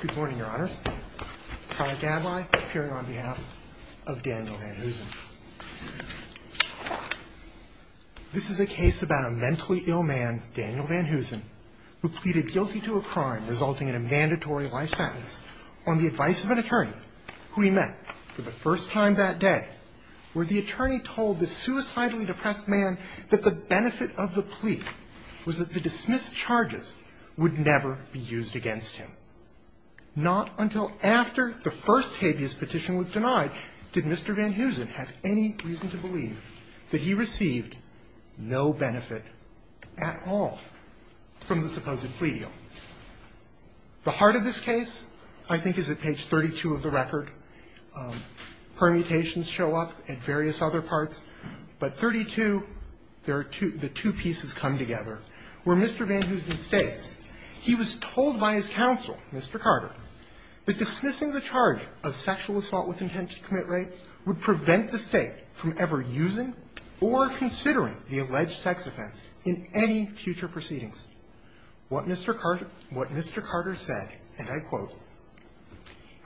Good morning, Your Honors. Kyle Gablai, appearing on behalf of Daniel Van Hoosen. This is a case about a mentally ill man, Daniel Van Hoosen, who pleaded guilty to a crime resulting in a mandatory life sentence on the advice of an attorney who he met for the first time that day, where the attorney told this suicidally depressed man that the benefit of the plea was that the dismissed charges would never be used against him. Not until after the first habeas petition was denied did Mr. Van Hoosen have any reason to believe that he received no benefit at all from the supposed plea deal. The heart of this case, I think, is at page 32 of the record. Permutations show up at various other parts, but 32, the two pieces come together, where Mr. Van Hoosen states, he was told by his counsel, Mr. Carter, that dismissing the charge of sexual assault with intent to commit rape would prevent the State from ever using or considering the alleged sex offense in any future proceedings. What Mr. Carter said, and I quote,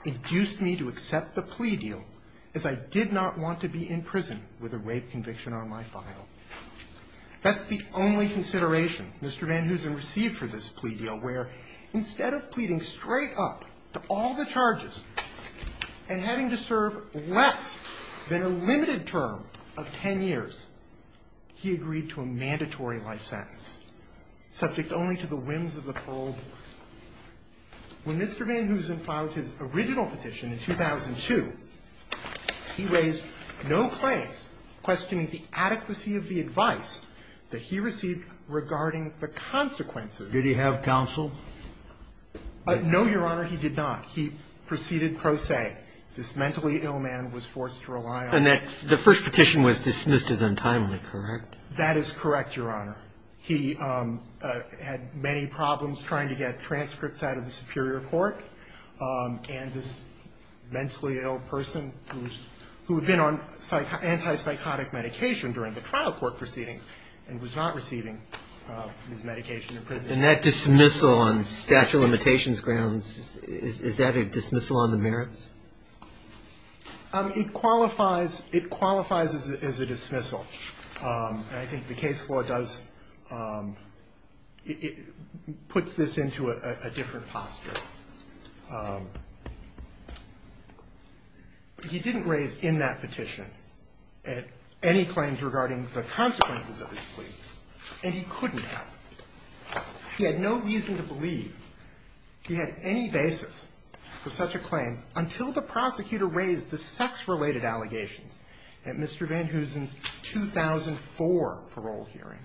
induced me to accept the plea deal as I did not want to be in prison with a rape conviction on my file. That's the only consideration Mr. Van Hoosen received for this plea deal, where instead of pleading straight up to all the charges and having to serve less than a limited term of 10 years, he agreed to a mandatory life sentence. Subject only to the whims of the parole board. When Mr. Van Hoosen filed his original petition in 2002, he raised no claims questioning the adequacy of the advice that he received regarding the consequences. Did he have counsel? No, Your Honor, he did not. He proceeded pro se. This mentally ill man was forced to rely on his counsel. And the first petition was dismissed as untimely, correct? That is correct, Your Honor. He had many problems trying to get transcripts out of the superior court. And this mentally ill person who had been on anti-psychotic medication during the trial court proceedings and was not receiving his medication in prison. And that dismissal on statute of limitations grounds, is that a dismissal on the merits? It qualifies as a dismissal. And I think the case law does, puts this into a different posture. He didn't raise in that petition any claims regarding the consequences of his plea. And he couldn't have. He had no reason to believe he had any basis for such a claim until the prosecutor raised the sex related allegations. At Mr. Van Heusen's 2004 parole hearing.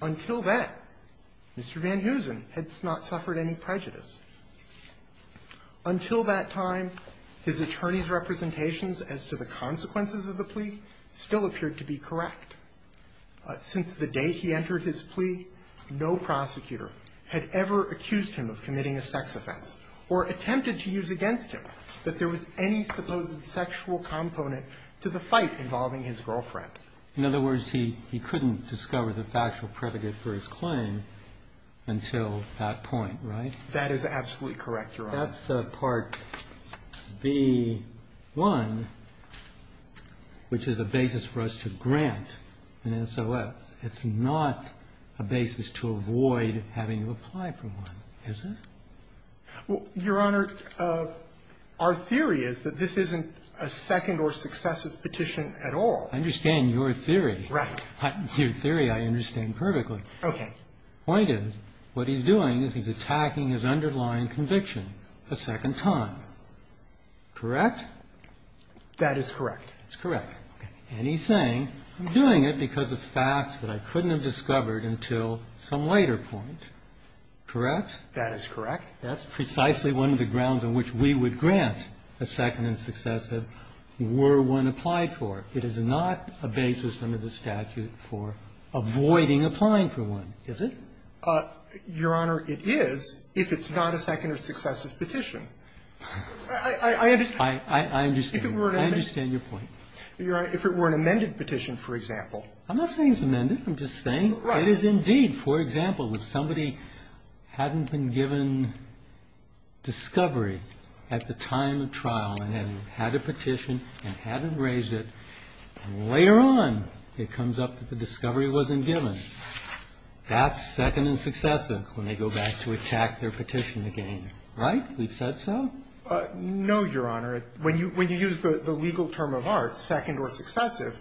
Until then, Mr. Van Heusen had not suffered any prejudice. Until that time, his attorney's representations as to the consequences of the plea still appeared to be correct. Since the day he entered his plea, no prosecutor had ever accused him of committing or attempted to use against him that there was any supposed sexual component to the fight involving his girlfriend. In other words, he couldn't discover the factual predicate for his claim until that point, right? That is absolutely correct, Your Honor. That's Part B.1, which is a basis for us to grant an SOS. It's not a basis to avoid having to apply for one, is it? Well, Your Honor, our theory is that this isn't a second or successive petition at all. I understand your theory. Right. Your theory I understand perfectly. Okay. The point is, what he's doing is he's attacking his underlying conviction a second time. Correct? That is correct. That's correct. And he's saying, I'm doing it because of facts that I couldn't have discovered until some later point. Correct? That is correct. That's precisely one of the grounds on which we would grant a second and successive were one applied for. It is not a basis under the statute for avoiding applying for one, is it? Your Honor, it is if it's not a second or successive petition. I understand. I understand. I understand your point. Your Honor, if it were an amended petition, for example. I'm not saying it's amended. I'm just saying it is indeed. Right. For example, if somebody hadn't been given discovery at the time of trial and had a petition and hadn't raised it, and later on it comes up that the discovery wasn't given, that's second and successive when they go back to attack their petition again. Right? We've said so? No, Your Honor. When you use the legal term of art, second or successive,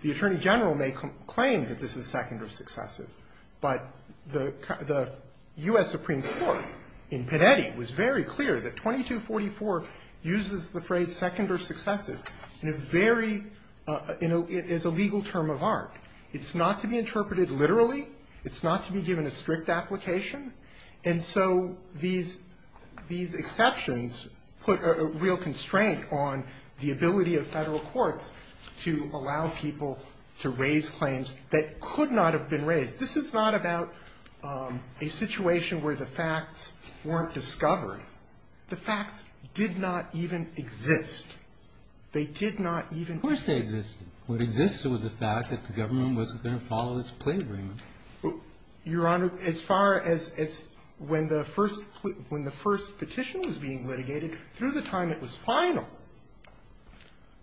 the Attorney General may claim that this is second or successive, but the U.S. Supreme Court in Panetti was very clear that 2244 uses the phrase second or successive in a very – as a legal term of art. It's not to be interpreted literally. It's not to be given a strict application. And so these exceptions put a real constraint on the ability of Federal courts to allow people to raise claims that could not have been raised. This is not about a situation where the facts weren't discovered. The facts did not even exist. They did not even exist. Of course they existed. What existed was the fact that the government wasn't going to follow its plea agreement. Your Honor, as far as when the first – when the first petition was being litigated, through the time it was final,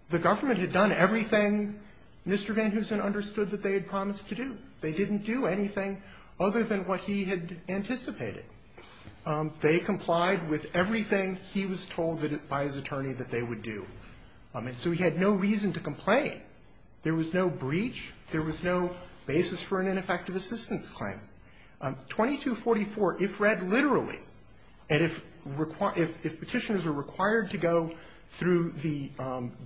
the government had done everything Mr. Van Hoosen understood that they had promised to do. They didn't do anything other than what he had anticipated. They complied with everything he was told by his attorney that they would do. And so he had no reason to complain. There was no breach. There was no basis for an ineffective assistance claim. 2244, if read literally, and if – if Petitioners are required to go through the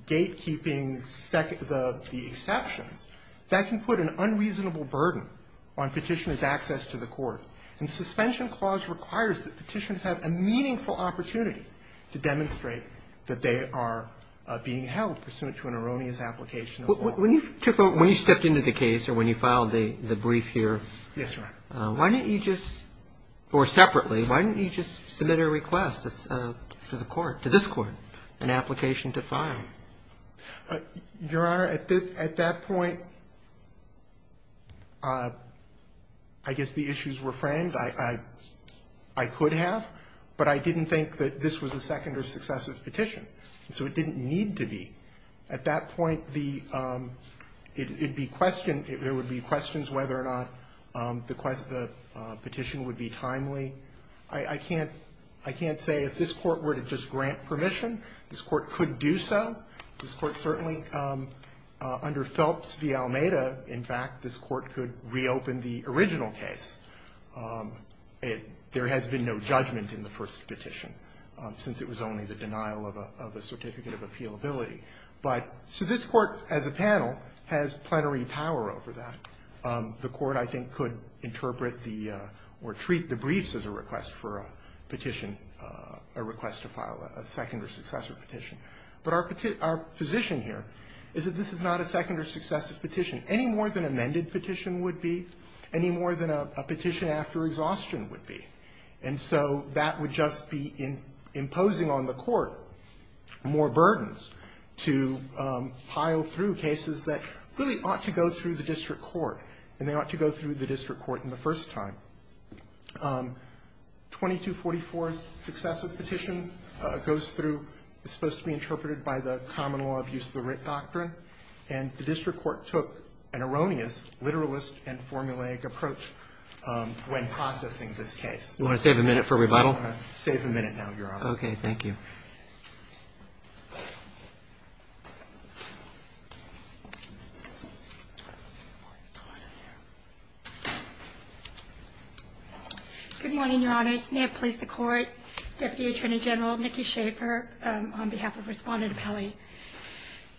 gatekeeping – the exceptions, that can put an unreasonable burden on Petitioners' access to the court. And Suspension Clause requires that Petitioners have a meaningful opportunity to demonstrate that they are being held pursuant to an erroneous application of law. Roberts. So when you took a – when you stepped into the case or when you filed the brief here, why didn't you just – or separately, why didn't you just submit a request to the court, to this Court, an application to file? Your Honor, at that point, I guess the issues were framed. I could have, but I didn't think that this was a second or successive petition, so it didn't need to be. At that point, the – it would be questioned – there would be questions whether or not the petition would be timely. I can't – I can't say if this Court were to just grant permission. This Court could do so. This Court certainly, under Phelps v. Almeida, in fact, this Court could reopen the original case. There has been no judgment in the first petition, since it was only the denial of a – of a certificate of appealability. But – so this Court, as a panel, has plenary power over that. The Court, I think, could interpret the – or treat the briefs as a request for a petition, a request to file a second or successive petition. But our position here is that this is not a second or successive petition, any more than amended petition would be, any more than a petition after exhaustion would And so that would just be imposing on the Court more burdens to pile through cases that really ought to go through the district court, and they ought to go through the district court in the first time. 2244's successive petition goes through – is supposed to be interpreted by the common law abuse of the writ doctrine, and the district court took an erroneous, literalist and formulaic approach when processing this case. You want to save a minute for rebuttal? I want to save a minute now, Your Honor. Okay. Thank you. Good morning, Your Honors. May it please the Court. Deputy Attorney General Nikki Schaffer on behalf of Respondent Appellee.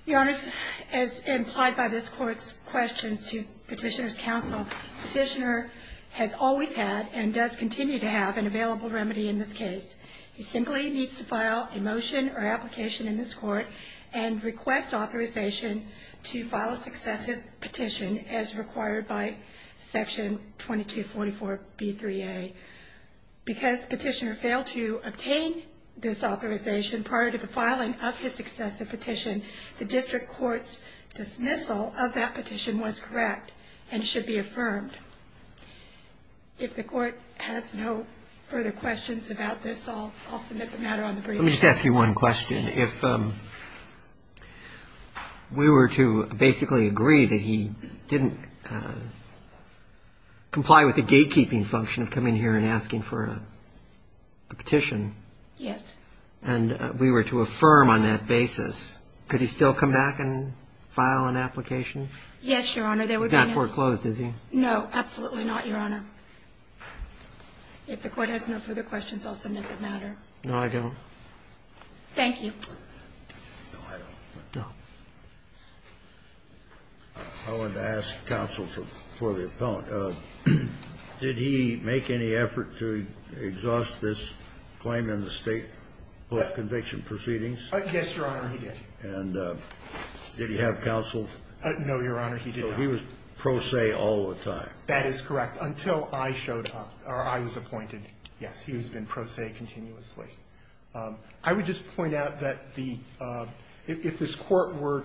Your Honors, as implied by this Court's questions to Petitioner's counsel, Petitioner has always had and does continue to have an available remedy in this case. He simply needs to file a motion or application in this Court and request authorization to file a successive petition as required by Section 2244b3a. Because Petitioner failed to obtain this authorization prior to the filing of his successive petition, the district court's dismissal of that petition was correct and should be affirmed. If the Court has no further questions about this, I'll submit the matter on the brief. Let me just ask you one question. If we were to basically agree that he didn't comply with the gatekeeping function of coming here and asking for a petition. Yes. And we were to affirm on that basis, could he still come back and file an application? Yes, Your Honor. He's not foreclosed, is he? No, absolutely not, Your Honor. If the Court has no further questions, I'll submit the matter. No, I don't. Thank you. No, I don't. No. I wanted to ask counsel for the appellant. Did he make any effort to exhaust this claim in the State post-conviction proceedings? Yes, Your Honor, he did. And did he have counsel? No, Your Honor, he did not. So he was pro se all the time. That is correct, until I showed up, or I was appointed. Yes, he has been pro se continuously. I would just point out that the – if this Court were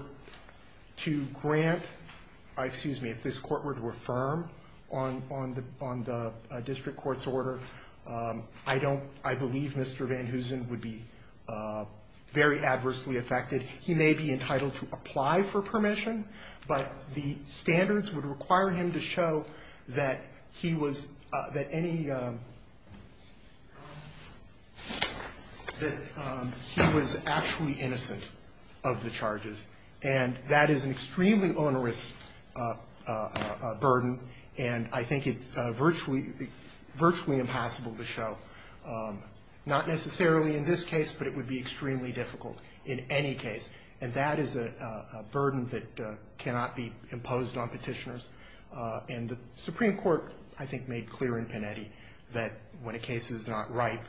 to grant – excuse me. If this Court were to affirm on the district court's order, I don't – I believe Mr. Van Heusen would be very adversely affected. He may be entitled to apply for permission, but the standards would require him to show that he was – that any – that he was actually innocent of the charges. And that is an extremely onerous burden, and I think it's virtually – virtually impossible to show, not necessarily in this case, but it would be extremely difficult in any case. And that is a burden that cannot be imposed on Petitioners. And the Supreme Court, I think, made clear in Pinetti that when a case is not right,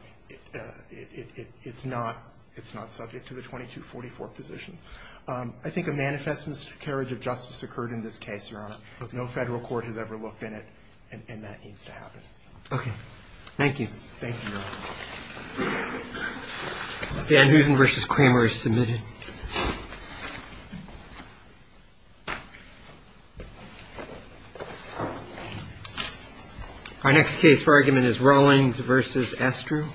it's not – it's not subject to the 2244 positions. I think a manifest miscarriage of justice occurred in this case, Your Honor. No federal court has ever looked in it, and that needs to happen. Okay. Thank you. Thank you, Your Honor. Van Heusen v. Kramer is submitted. Our next case for argument is Rawlings v. Estrew.